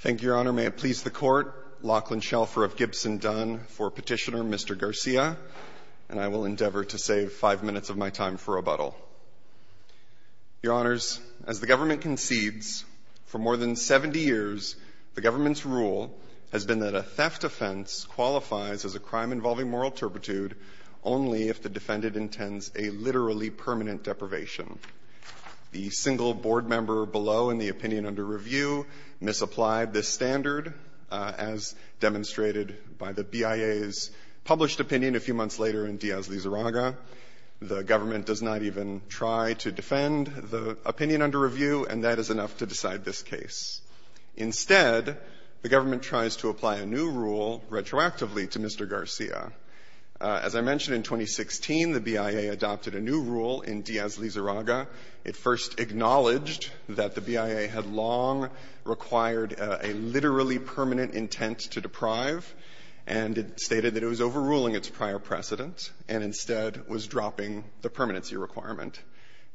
Thank you, Your Honor. May it please the Court, Lachlan Shelfer of Gibson Dunn, for Petitioner Mr. Garcia, and I will endeavor to save five minutes of my time for rebuttal. Your Honors, as the government concedes, for more than 70 years, the government's rule has been that a theft offense qualifies as a crime involving moral turpitude only if the defendant intends a literally permanent deprivation. The single board member below in the opinion under review misapplied this standard, as demonstrated by the BIA's published opinion a few months later in Diaz-Lizarraga. The government does not even try to defend the opinion under review, and that is enough to decide this case. Instead, the government tries to apply a new rule retroactively to Mr. Garcia. As I mentioned, in 2016, the BIA adopted a new rule in Diaz-Lizarraga. It first acknowledged that the BIA had long required a literally permanent intent to deprive, and it stated that it was overruling its prior precedent and instead was dropping the permanency requirement.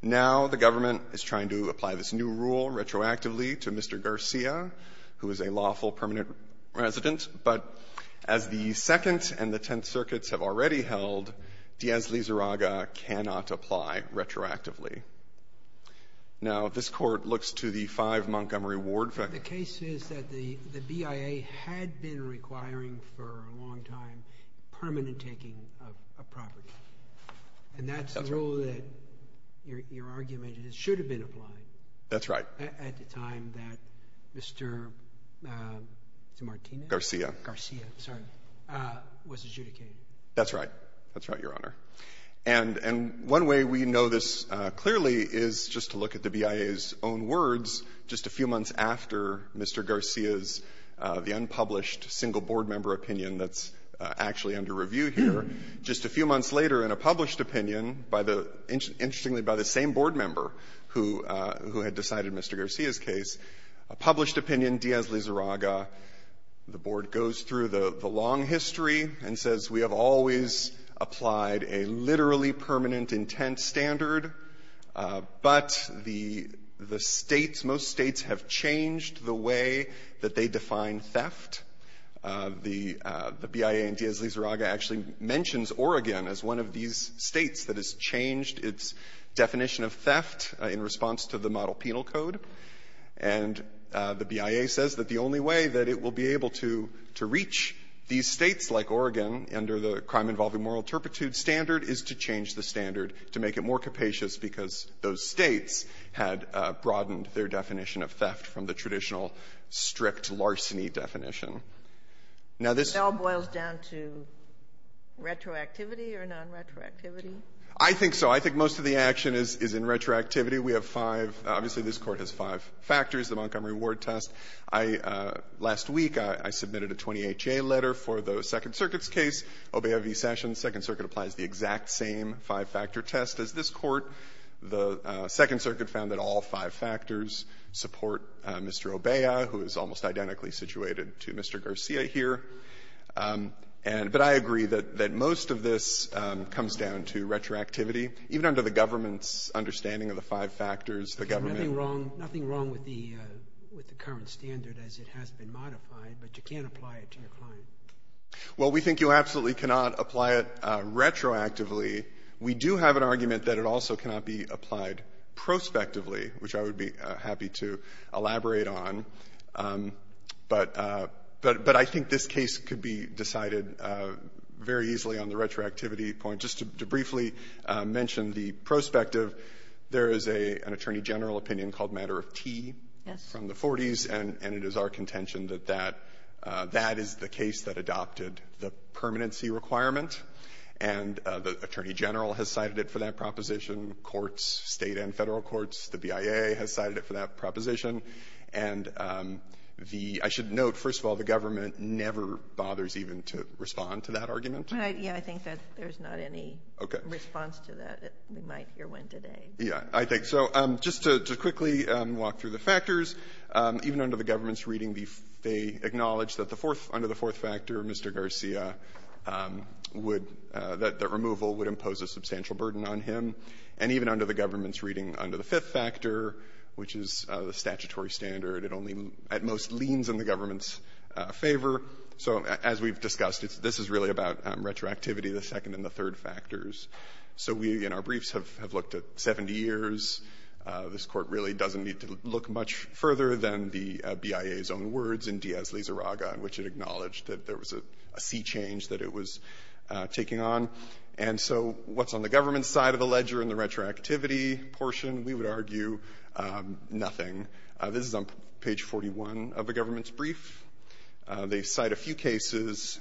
Now the government is trying to apply this new rule retroactively to Mr. Garcia, who is a lawful permanent resident, but as the Second and the Tenth Circuits have already held, Diaz-Lizarraga cannot apply retroactively. Now, this Court looks to the 5 Montgomery Ward. The case is that the BIA had been requiring for a long time permanent taking of property, and that's the rule that your argument is it should have been applied. That's right. At the time that Mr. Martinez? Garcia. Garcia, sorry, was adjudicated. That's right. That's right, Your Honor. And one way we know this clearly is just to look at the BIA's own words just a few months after Mr. Garcia's, the unpublished single board member opinion that's actually under review here. Just a few months later, in a published opinion by the — interestingly, by the same board member who had decided Mr. Garcia's case, a published opinion, Diaz-Lizarraga, the board goes through the long history and says we have always applied a literally permanent intent standard, but the states, most states have changed the way that they define theft. The BIA and Diaz-Lizarraga actually mentions Oregon as one of these states that has changed its definition of theft in response to the model penal code. And the BIA says that the only way that it will be able to reach these states like Oregon under the crime-involving moral turpitude standard is to change the standard to make it more capacious because those states had broadened their definition of theft from the traditional strict larceny definition. Now, this — It all boils down to retroactivity or nonretroactivity? I think so. I think most of the action is in retroactivity. We have five — obviously, this Court has five factors, the Montgomery Ward test. I — last week, I submitted a 20HA letter for the Second Circuit's case, Obeya v. Sessions. Second Circuit applies the exact same five-factor test as this Court. The Second Circuit found that all five factors support Mr. Obeya, who is almost identically situated to Mr. Garcia here. And — but I agree that most of this comes down to retroactivity. Even under the government's understanding of the five factors, the government There's nothing wrong — nothing wrong with the current standard as it has been modified, but you can't apply it to your client. Well, we think you absolutely cannot apply it retroactively. We do have an argument that it also cannot be applied prospectively, which I would be happy to elaborate on. But I think this case could be decided very easily on the retroactivity point. Just to briefly mention the prospective, there is an attorney general opinion called Matter of T from the 40s, and it is our contention that that is the case that adopted the permanency requirement. And the attorney general has cited it for that proposition. Courts, state and federal courts, the BIA has cited it for that proposition. And the — I should note, first of all, the government never bothers even to respond to that argument. Yeah, I think that there's not any response to that. We might hear one today. Yeah, I think so. Just to quickly walk through the factors, even under the government's reading, they acknowledge that the fourth — under the fourth factor, Mr. Garcia would — that the removal would impose a substantial burden on him. And even under the government's reading, under the fifth factor, which is the statutory standard, it only at most leans in the government's favor. So as we've discussed, this is really about retroactivity, the second and the third factors. So we, in our briefs, have looked at 70 years. This Court really doesn't need to look much further than the BIA's own words in Diaz-Lizarraga in which it acknowledged that there was a sea change that it was taking on. And so what's on the government's side of the ledger in the retroactivity portion? We would argue nothing. This is on page 41 of the government's brief. They cite a few cases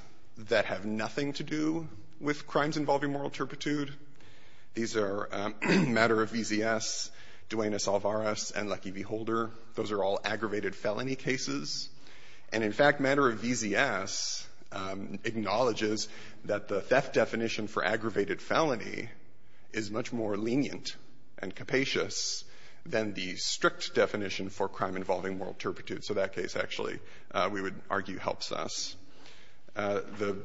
that have nothing to do with crimes involving moral turpitude. These are Matter of VZS, Duenas-Alvarez, and Lucky V. Holder. Those are all aggravated felony cases. And in fact, Matter of VZS acknowledges that the theft definition for aggravated felony is much more lenient and capacious than the strict definition for crime involving moral turpitude. So that case actually, we would argue, helps us. The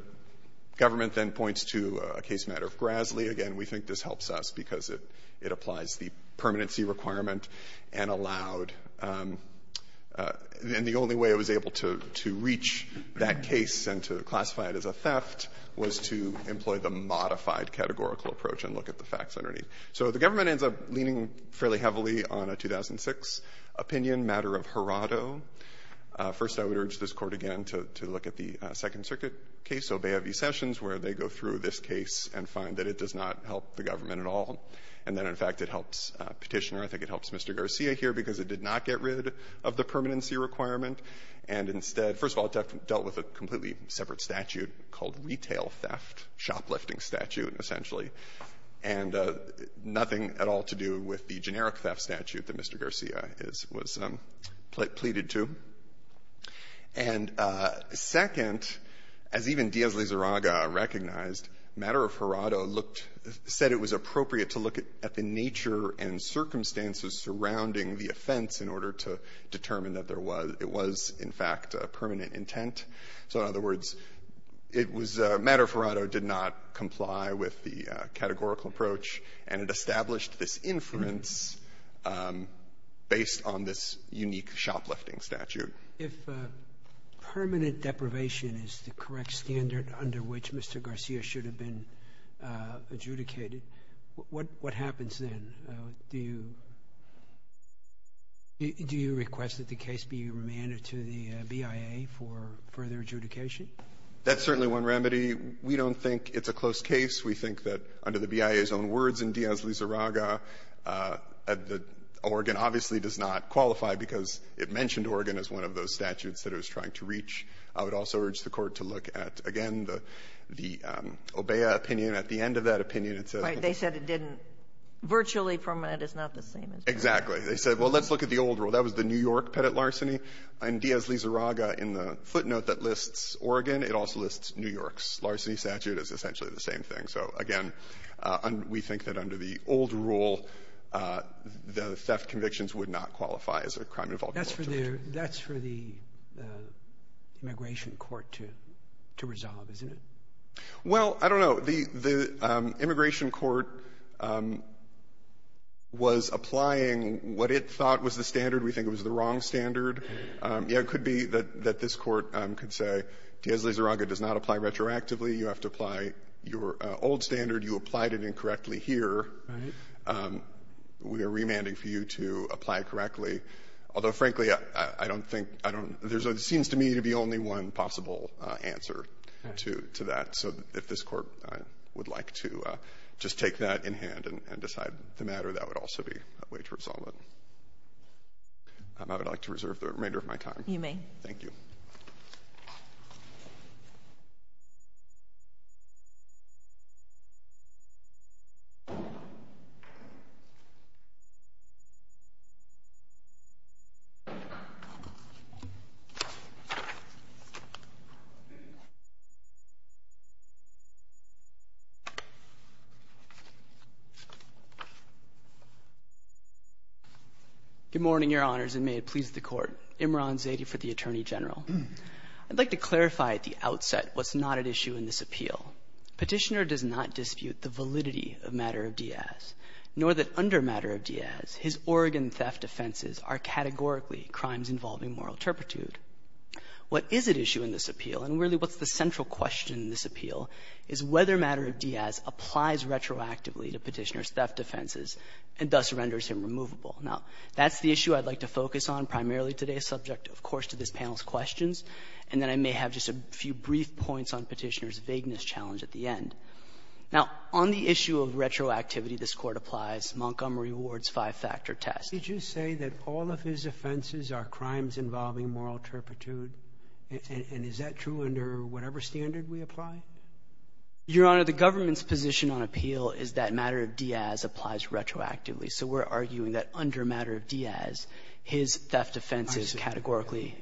government then points to a case, Matter of Graslie. Again, we think this helps us because it applies the permanency requirement and allowed, and the only way it was able to reach that case and to classify it as a theft was to employ the modified categorical approach and look at the facts underneath. So the government ends up leaning fairly heavily on a 2006 opinion, Matter of Horado. First, I would urge this Court again to look at the Second Circuit case, Obeah v. Sessions, where they go through this case and find that it does not help the government at all. And then in fact, it helps Petitioner. I think it helps Mr. Garcia here because it did not get rid of the permanency requirement. And instead, first of all, it dealt with a completely separate statute called retail theft, shoplifting statute, essentially, and nothing at all to do with the generic theft statute that Mr. Garcia was pleaded to. And second, as even Diaz-Lizarraga recognized, Matter of Horado said it was appropriate to look at the nature and circumstances surrounding the offense in order to determine that there was — it was, in fact, a permanent intent. So in other words, it was — Matter of Horado did not comply with the categorical approach, and it established this inference based on this unique shoplifting statute. Sotomayor, if permanent deprivation is the correct standard under which Mr. Garcia should have been adjudicated, what happens then? Do you request that the case be remanded to the BIA for further adjudication? That's certainly one remedy. We don't think it's a close case. We think that under the BIA's own words in Diaz-Lizarraga, Oregon obviously does not qualify because it mentioned Oregon as one of those statutes that it was trying to reach. I would also urge the Court to look at, again, the OBEA opinion. At the end of that opinion, it says — Right. They said it didn't — virtually permanent is not the same as permanent. Exactly. They said, well, let's look at the old rule. That was the New York Pettit larceny. In Diaz-Lizarraga, in the footnote that lists Oregon, it also lists New York's larceny statute as essentially the same thing. So, again, we think that under the old rule, the theft convictions would not qualify as a crime involving — That's for the immigration court to resolve, isn't it? Well, I don't know. The immigration court was applying what it thought was the standard. We think it was the wrong standard. Yeah, it could be that this court could say, Diaz-Lizarraga does not apply retroactively. You have to apply your old standard. You applied it incorrectly here. Right. We are remanding for you to apply it correctly. Although, frankly, I don't think — there seems to me to be only one possible answer to that. So if this court would like to just take that in hand and decide the matter, that would also be a way to resolve it. I would like to reserve the remainder of my time. You may. Thank you. Good morning, Your Honors, and may it please the Court. Imran Zaidi for the Attorney General. I'd like to clarify at the outset what's not at issue in this appeal. Petitioner does not dispute the validity of matter of Diaz, nor that under matter of Diaz, his Oregon theft offenses are categorically crimes involving moral turpitude. What is at issue in this appeal, and really what's the central question in this appeal, is whether matter of Diaz applies retroactively to Petitioner's theft offenses and thus renders him removable. Now, that's the issue I'd like to focus on primarily today, subject, of course, to this panel's questions, and then I may have just a few brief points on Petitioner's vagueness challenge at the end. Now, on the issue of retroactivity, this Court applies Montgomery Ward's five-factor test. Did you say that all of his offenses are crimes involving moral turpitude? And is that true under whatever standard we apply? Your Honor, the government's position on appeal is that matter of Diaz applies retroactively. So we're arguing that under matter of Diaz, his theft offenses categorically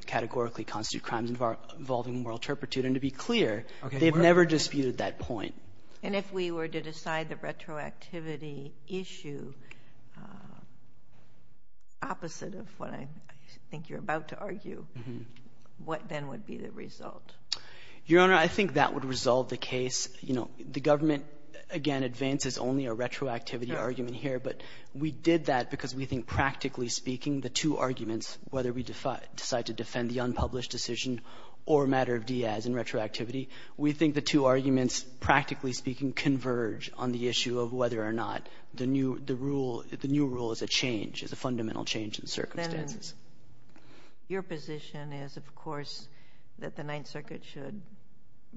constitute crimes involving moral turpitude. And to be clear, they've never disputed that point. And if we were to decide the retroactivity issue opposite of what I think you're about to argue, what then would be the result? Your Honor, I think that would resolve the case. You know, the government, again, advances only a retroactivity argument here, but we did that because we think, practically speaking, the two arguments, whether we decide to defend the unpublished decision or matter of Diaz in fact, practically speaking, converge on the issue of whether or not the new rule is a change, is a fundamental change in circumstances. Your position is, of course, that the Ninth Circuit should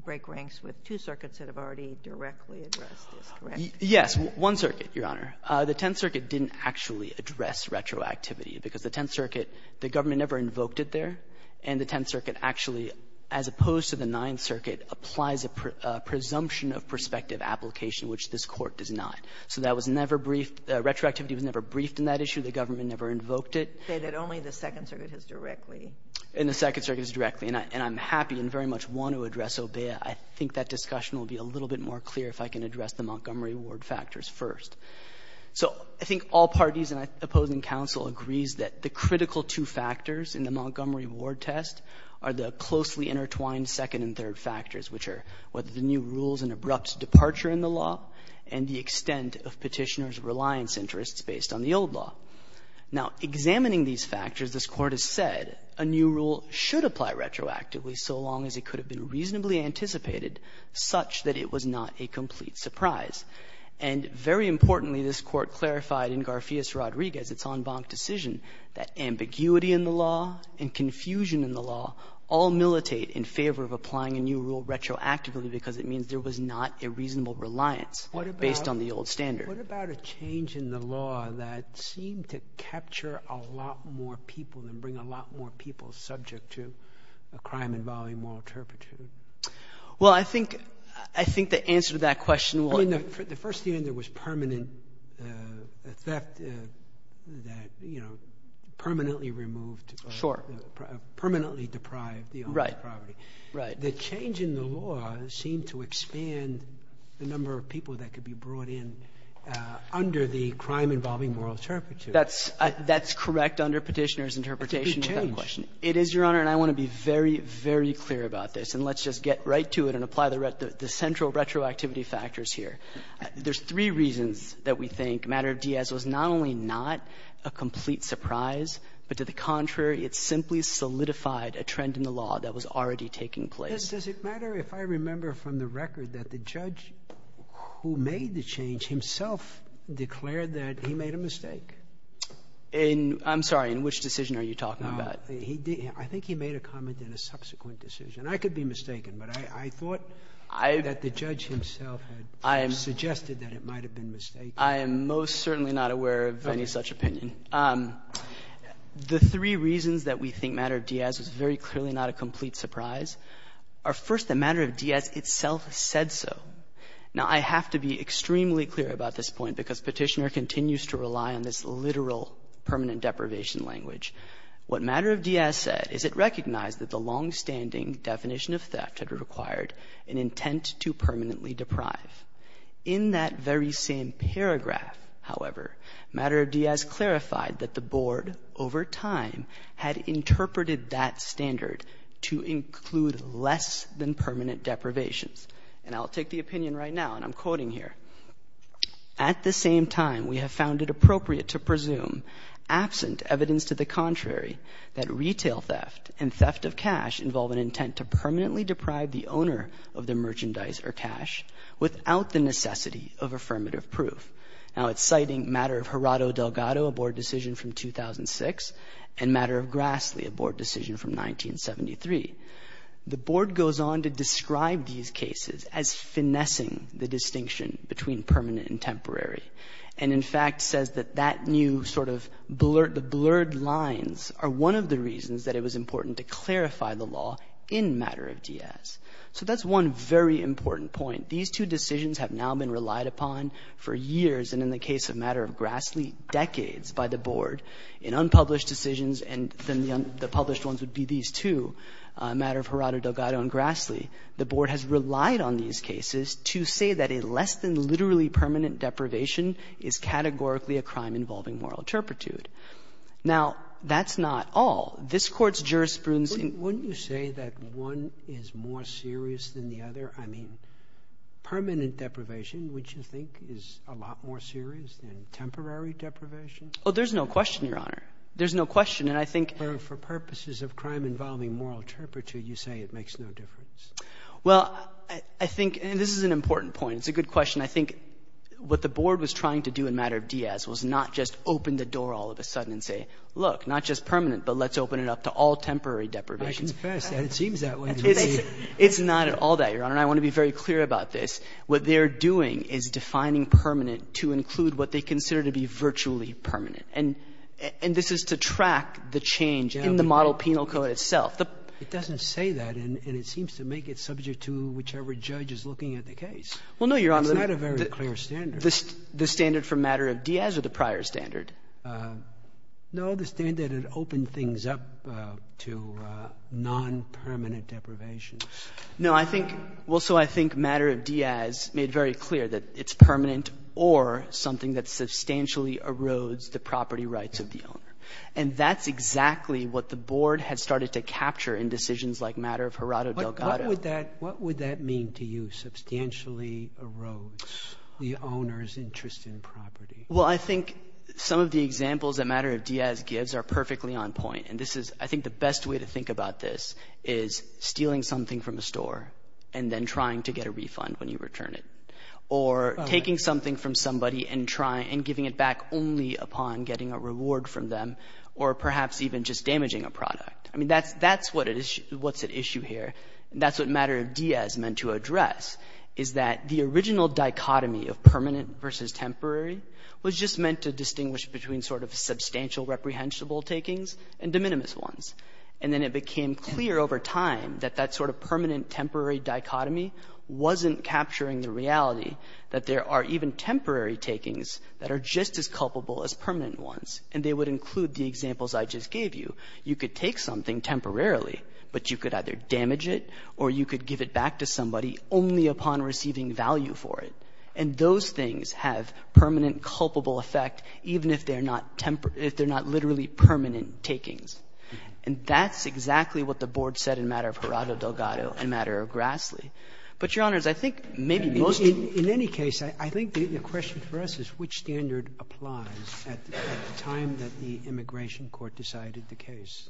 break ranks with two circuits that have already directly addressed this, correct? Yes. One circuit, Your Honor. The Tenth Circuit didn't actually address retroactivity because the Tenth Circuit the government never invoked it there. And the Tenth Circuit actually, as opposed to the Ninth Circuit, applies a presumption of prospective application, which this Court does not. So that was never briefed. Retroactivity was never briefed in that issue. The government never invoked it. You say that only the Second Circuit has directly. And the Second Circuit has directly. And I'm happy and very much want to address OBEA. I think that discussion will be a little bit more clear if I can address the Montgomery Ward factors first. So I think all parties and opposing counsel agrees that the critical two factors in the Montgomery Ward test are the closely intertwined second and third factors, which are whether the new rule is an abrupt departure in the law and the extent of Petitioner's reliance interests based on the old law. Now, examining these factors, this Court has said a new rule should apply retroactively so long as it could have been reasonably anticipated, such that it was not a complete surprise. And very importantly, this Court clarified in Garfias-Rodriguez, its en banc decision, that ambiguity in the law and confusion in the law all militate in favor of applying a new rule retroactively because it means there was not a reasonable reliance based on the old standard. What about a change in the law that seemed to capture a lot more people and bring a lot more people subject to a crime involving moral turpitude? Well, I think the answer to that question will— I mean, the first thing there was permanent theft that, you know, permanently removed— Sure. —permanently deprived the owner of the property. Right. The change in the law seemed to expand the number of people that could be brought in under the crime involving moral turpitude. That's correct under Petitioner's interpretation of that question. It's a big change. It is, Your Honor, and I want to be very, very clear about this. And let's just get right to it and apply the central retroactivity factors here. There's three reasons that we think a matter of Diaz was not only not a complete surprise, but to the contrary, it simply solidified a trend in the law that was already taking place. Does it matter if I remember from the record that the judge who made the change himself declared that he made a mistake? I'm sorry. In which decision are you talking about? I think he made a comment in a subsequent decision. I could be mistaken, but I thought that the judge himself had suggested that it might have been mistaken. I am most certainly not aware of any such opinion. The three reasons that we think a matter of Diaz was very clearly not a complete surprise are, first, the matter of Diaz itself said so. Now, I have to be extremely clear about this point because Petitioner continues to rely on this literal permanent deprivation language. What a matter of Diaz said is it recognized that the longstanding definition of theft had required an intent to permanently deprive. In that very same paragraph, however, matter of Diaz clarified that the board over time had interpreted that standard to include less than permanent deprivations. And I'll take the opinion right now, and I'm quoting here. At the same time, we have found it appropriate to presume, absent evidence to the contrary, that retail theft and theft of cash involve an intent to permanently deprive the owner of the merchandise or cash without the necessity of affirmative proof. Now, it's citing matter of Gerardo Delgado, a board decision from 2006, and matter of Grassley, a board decision from 1973. The board goes on to describe these cases as finessing the distinction between permanent and temporary, and in fact says that that new sort of the blurred lines are one of the reasons that it was important to clarify the law in matter of Diaz. So that's one very important point. These two decisions have now been relied upon for years, and in the case of matter of Grassley, decades by the board. In unpublished decisions, and then the published ones would be these two, matter of Gerardo Delgado and Grassley, the board has relied on these cases to say that a less than literally permanent deprivation is categorically a crime involving moral turpitude. Now, that's not all. This Court's jurisprudence in — Wouldn't you say that one is more serious than the other? I mean, permanent deprivation, would you think, is a lot more serious than temporary deprivation? Oh, there's no question, Your Honor. There's no question. And I think — For purposes of crime involving moral turpitude, you say it makes no difference. Well, I think — and this is an important point. It's a good question. I think what the board was trying to do in matter of Diaz was not just open the door all of a sudden and say, look, not just permanent, but let's open it up to all temporary deprivations. I confess that it seems that way to me. It's not at all that, Your Honor. And I want to be very clear about this. What they're doing is defining permanent to include what they consider to be virtually permanent. And this is to track the change in the model penal code itself. It doesn't say that. And it seems to make it subject to whichever judge is looking at the case. Well, no, Your Honor. It's not a very clear standard. The standard for matter of Diaz or the prior standard? No, the standard had opened things up to non-permanent deprivations. No, I think — well, so I think matter of Diaz made very clear that it's permanent or something that substantially erodes the property rights of the owner. And that's exactly what the board had started to capture in decisions like matter of Gerardo Delgado. What would that — what would that mean to you, substantially erodes the owner's interest in property? Well, I think some of the examples that matter of Diaz gives are perfectly on point. And this is — I think the best way to think about this is stealing something from a store and then trying to get a refund when you return it. Or taking something from somebody and trying — and giving it back only upon getting a reward from them. Or perhaps even just damaging a product. I mean, that's what it is — what's at issue here. That's what matter of Diaz meant to address is that the original dichotomy of taking was just meant to distinguish between sort of substantial reprehensible takings and de minimis ones. And then it became clear over time that that sort of permanent temporary dichotomy wasn't capturing the reality that there are even temporary takings that are just as culpable as permanent ones. And they would include the examples I just gave you. You could take something temporarily, but you could either damage it or you could give it back to somebody only upon receiving value for it. And those things have permanent culpable effect even if they're not — if they're not literally permanent takings. And that's exactly what the Board said in matter of Gerardo Delgado and matter of Grassley. But, Your Honors, I think maybe most of the — Sotomayor, in any case, I think the question for us is which standard applies at the time that the immigration court decided the case?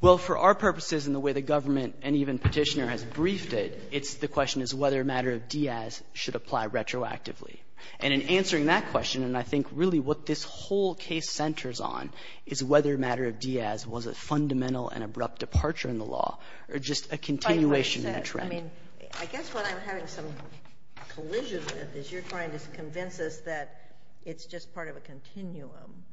Well, for our purposes and the way the government and even Petitioner has briefed it, it's — the question is whether matter of Diaz should apply retroactively. And in answering that question, and I think really what this whole case centers on, is whether matter of Diaz was a fundamental and abrupt departure in the law or just a continuation in the trend. I guess what I'm having some collisions with is you're trying to convince us that it's just part of a continuum.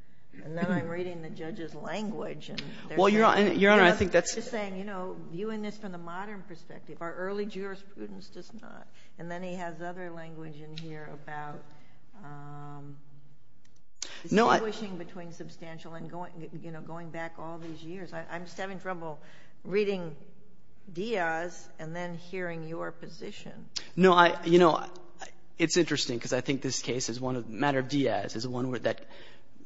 And then I'm reading the judge's language, and there's — Well, Your Honor, I think that's — I'm just saying, you know, viewing this from the modern perspective, our early jurisprudence does not. And then he has other language in here about distinguishing between substantial and going — you know, going back all these years. I'm just having trouble reading Diaz and then hearing your position. No, I — you know, it's interesting because I think this case is one of — matter of Diaz is one that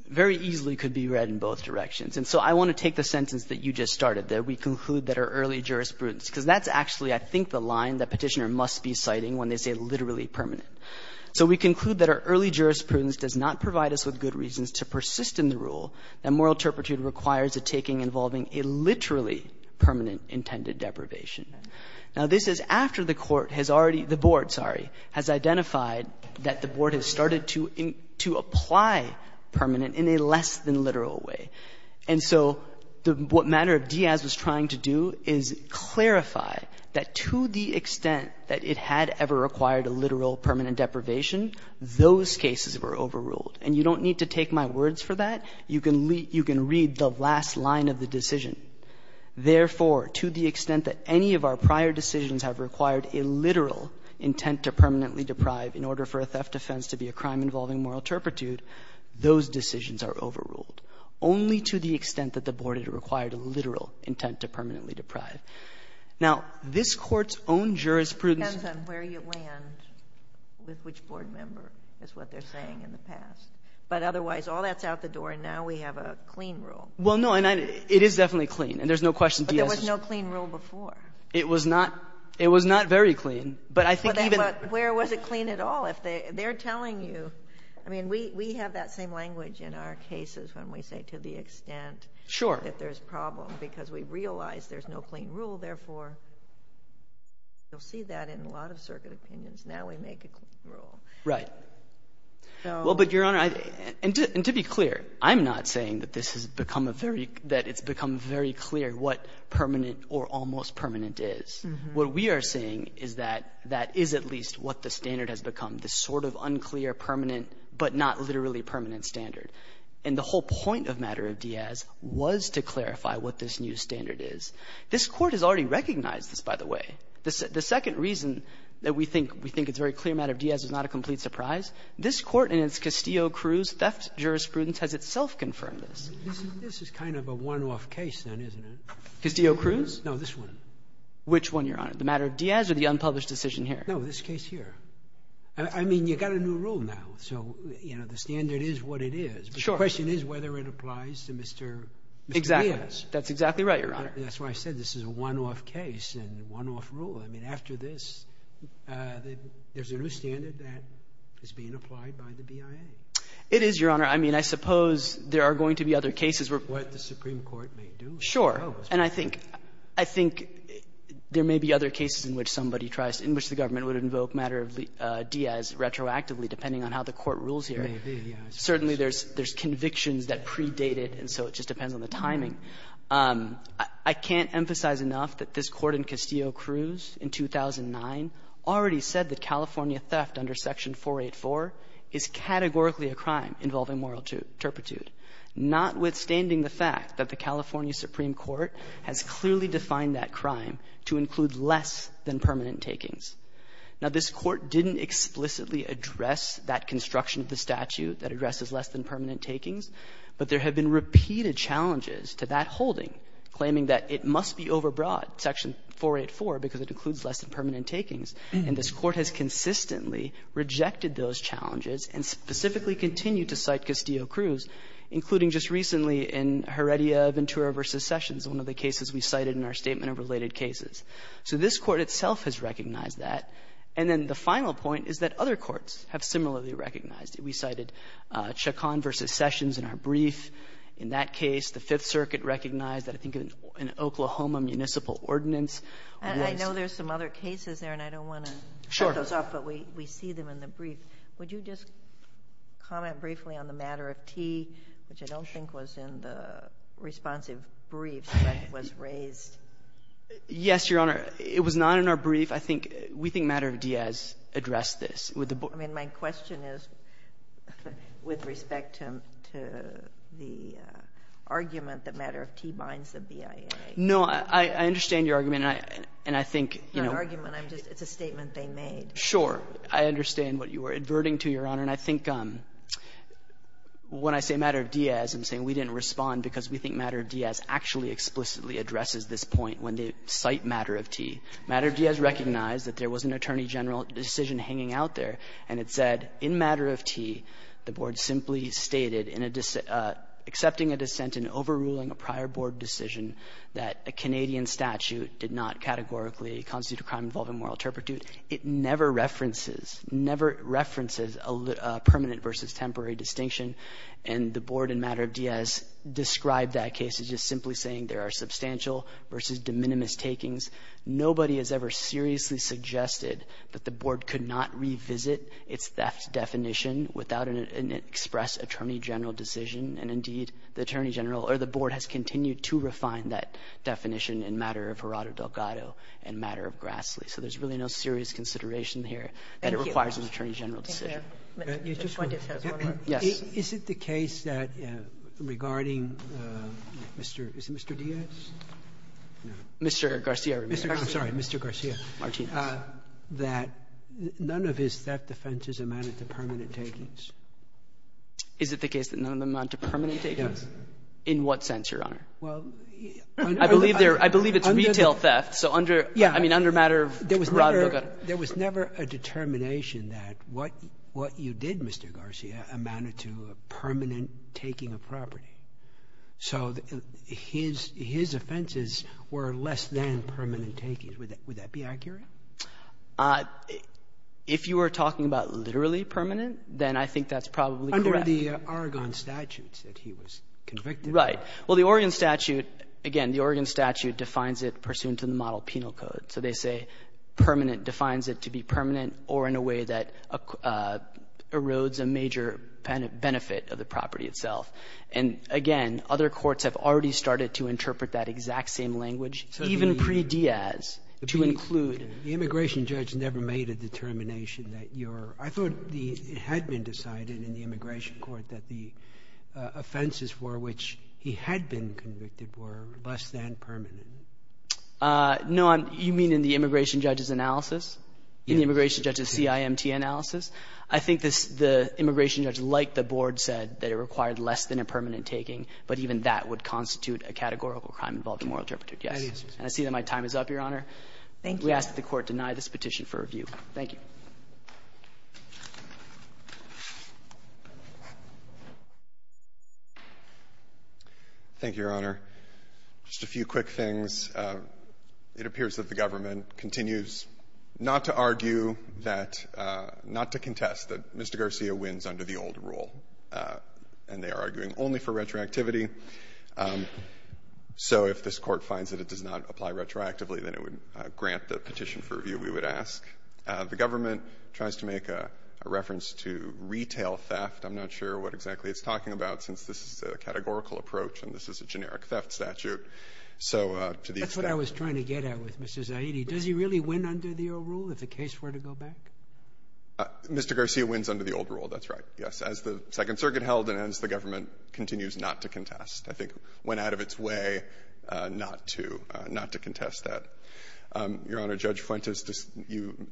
very easily could be read in both directions. And so I want to take the sentence that you just started, that we conclude that our early jurisprudence — because that's actually, I think, the line that Petitioner must be citing when they say literally permanent. So we conclude that our early jurisprudence does not provide us with good reasons to persist in the rule that moral turpitude requires a taking involving a literally permanent intended deprivation. Now, this is after the Court has already — the Board, sorry, has identified that the Board has started to apply permanent in a less-than-literal way. And so the — what matter of Diaz was trying to do is clarify that to the extent that it had ever required a literal permanent deprivation, those cases were overruled. And you don't need to take my words for that. You can read the last line of the decision. Therefore, to the extent that any of our prior decisions have required a literal intent to permanently deprive in order for a theft offense to be a crime involving moral turpitude, those decisions are overruled, only to the extent that the Board had required a literal intent to permanently deprive. Now, this Court's own jurisprudence — It depends on where you land with which Board member is what they're saying in the past. But otherwise, all that's out the door, and now we have a clean rule. Well, no, and it is definitely clean. And there's no question Diaz — But there was no clean rule before. It was not — it was not very clean. But I think even — I mean, we have that same language in our cases when we say to the extent that there's a problem because we realize there's no clean rule. Therefore, you'll see that in a lot of circuit opinions. Now we make a clean rule. Right. Well, but, Your Honor, and to be clear, I'm not saying that this has become a very — that it's become very clear what permanent or almost permanent is. What we are saying is that that is at least what the standard has become, this sort of unclear permanent but not literally permanent standard. And the whole point of matter of Diaz was to clarify what this new standard is. This Court has already recognized this, by the way. The second reason that we think — we think it's a very clear matter of Diaz is not a complete surprise. This Court in its Castillo-Cruz theft jurisprudence has itself confirmed this. This is kind of a one-off case, then, isn't it? Castillo-Cruz? No, this one. Which one, Your Honor, the matter of Diaz or the unpublished decision here? No, this case here. I mean, you've got a new rule now, so, you know, the standard is what it is. Sure. The question is whether it applies to Mr. Diaz. Exactly. That's exactly right, Your Honor. That's why I said this is a one-off case and a one-off rule. I mean, after this, there's a new standard that is being applied by the BIA. It is, Your Honor. I mean, I suppose there are going to be other cases where — What the Supreme Court may do. Sure. And I think — I think there may be other cases in which somebody tries — in which the government would invoke matter of Diaz retroactively, depending on how the Court rules here. Certainly, there's convictions that predate it, and so it just depends on the timing. I can't emphasize enough that this Court in Castillo-Cruz in 2009 already said that California theft under Section 484 is categorically a crime involving moral turpitude, notwithstanding the fact that the California Supreme Court has clearly defined that crime to include less than permanent takings. Now, this Court didn't explicitly address that construction of the statute that addresses less than permanent takings, but there have been repeated challenges to that holding claiming that it must be overbroad, Section 484, because it includes less than permanent takings, and this Court has consistently rejected those challenges and specifically continued to cite Castillo-Cruz, including just recently in Heredia Ventura v. Sessions, one of the cases we cited in our statement of related cases. So this Court itself has recognized that. And then the final point is that other courts have similarly recognized it. We cited Chacon v. Sessions in our brief. In that case, the Fifth Circuit recognized that, I think, in an Oklahoma municipal ordinance. And I know there's some other cases there, and I don't want to cut those off. But we see them in the brief. Would you just comment briefly on the matter of T, which I don't think was in the responsive brief that was raised? Yes, Your Honor. It was not in our brief. I think we think Matter of Diaz addressed this. I mean, my question is with respect to the argument that Matter of T binds the BIA. No, I understand your argument, and I think, you know — It's not an argument. It's a statement they made. Sure. I understand what you were adverting to, Your Honor. And I think when I say Matter of Diaz, I'm saying we didn't respond because we think Matter of Diaz actually explicitly addresses this point when they cite Matter of T. Matter of Diaz recognized that there was an attorney general decision hanging out there, and it said, in Matter of T, the Board simply stated in a — accepting a dissent in overruling a prior Board decision that a Canadian statute did not categorically constitute a crime involving moral turpitude. It never references — never references a permanent versus temporary distinction. And the Board in Matter of Diaz described that case as just simply saying there are substantial versus de minimis takings. Nobody has ever seriously suggested that the Board could not revisit its theft definition without an express attorney general decision. And, indeed, the attorney general — or the Board has continued to refine that definition in Matter of Harada Delgado and Matter of Grassley. So there's really no serious consideration here that it requires an attorney general decision. Thank you. Thank you, Your Honor. Mr. Fuentes has one more. Yes. Is it the case that regarding Mr. — is it Mr. Diaz? No. Mr. Garcia. Mr. Garcia. I'm sorry. Mr. Garcia. Martinez. That none of his theft offenses amounted to permanent takings. Is it the case that none of them amount to permanent takings? Yes. In what sense, Your Honor? Well, I believe there — I believe it's retail theft. So under — I mean, under Matter of Harada Delgado. But there was never a determination that what you did, Mr. Garcia, amounted to a permanent taking of property. So his offenses were less than permanent takings. Would that be accurate? If you are talking about literally permanent, then I think that's probably correct. Under the Oregon statutes that he was convicted of. Right. Well, the Oregon statute, again, the Oregon statute defines it pursuant to the model penal code. So they say permanent defines it to be permanent or in a way that erodes a major benefit of the property itself. And, again, other courts have already started to interpret that exact same language, even pre-Diaz, to include — The immigration judge never made a determination that your — I thought it had been decided in the immigration court that the offenses for which he had been convicted were less than permanent. No, I'm — you mean in the immigration judge's analysis? In the immigration judge's CIMT analysis? I think the immigration judge, like the Board, said that it required less than a permanent taking, but even that would constitute a categorical crime involved in moral interpretation. Yes. And I see that my time is up, Your Honor. Thank you. We ask that the Court deny this petition for review. Thank you. Thank you, Your Honor. Just a few quick things. It appears that the government continues not to argue that — not to contest that Mr. Garcia wins under the old rule, and they are arguing only for retroactivity. So if this Court finds that it does not apply retroactively, then it would grant the petition for review, we would ask. The government tries to make a reference to retail theft. I'm not sure what exactly it's talking about, since this is a categorical approach and this is a generic theft statute. So to the extent — That's what I was trying to get at with Mr. Zaidi. Does he really win under the old rule if the case were to go back? Mr. Garcia wins under the old rule. That's right. Yes. As the Second Circuit held and as the government continues not to contest, I think went out of its way not to — not to contest that. Your Honor, Judge Fuentes, you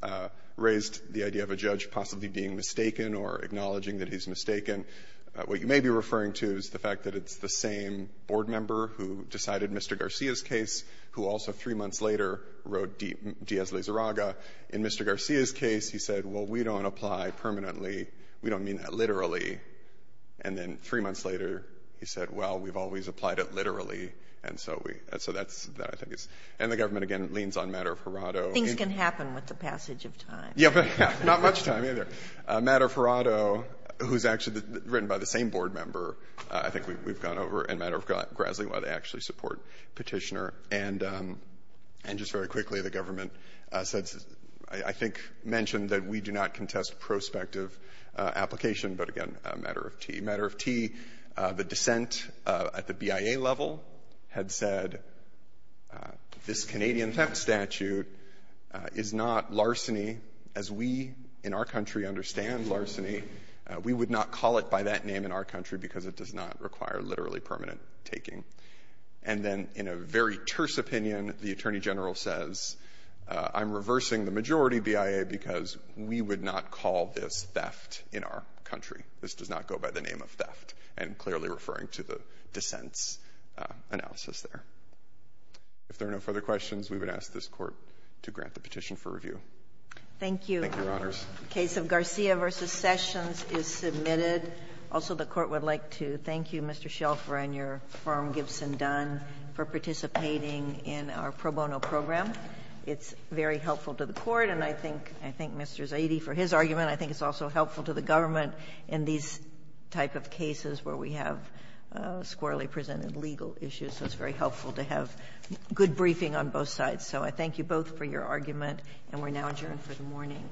raised the idea of a judge possibly being mistaken or acknowledging that he's mistaken. What you may be referring to is the fact that it's the same board member who decided Mr. Garcia's case, who also three months later wrote Diaz-Lizarraga. In Mr. Garcia's case, he said, well, we don't apply permanently. We don't mean that literally. And then three months later, he said, well, we've always applied it literally. And so we — so that's — that, I think, is — and the government, again, leans on Matter of Harado. Things can happen with the passage of time. Yeah, but not much time, either. Matter of Harado, who's actually written by the same board member, I think we've gone over, and Matter of Graslie, why they actually support Petitioner. And just very quickly, the government said — I think mentioned that we do not contest prospective application, but, again, Matter of T. Matter of T, the dissent at the BIA level had said this Canadian theft statute is not larceny as we, in our country, understand larceny. We would not call it by that name in our country because it does not require literally permanent taking. And then in a very terse opinion, the attorney general says, I'm reversing the majority BIA because we would not call this theft in our country. This does not go by the name of theft. And I'm clearly referring to the dissent's analysis there. If there are no further questions, we would ask this Court to grant the petition Thank you. Thank you, Your Honors. The case of Garcia v. Sessions is submitted. Also, the Court would like to thank you, Mr. Shelfer, and your firm, Gibson Dunn, for participating in our pro bono program. It's very helpful to the Court, and I think — I thank Mr. Zaidi for his argument. I think it's also helpful to the government in these type of cases where we have squarely presented legal issues. So it's very helpful to have good briefing on both sides. So I thank you both for your argument, and we're now adjourned for the morning.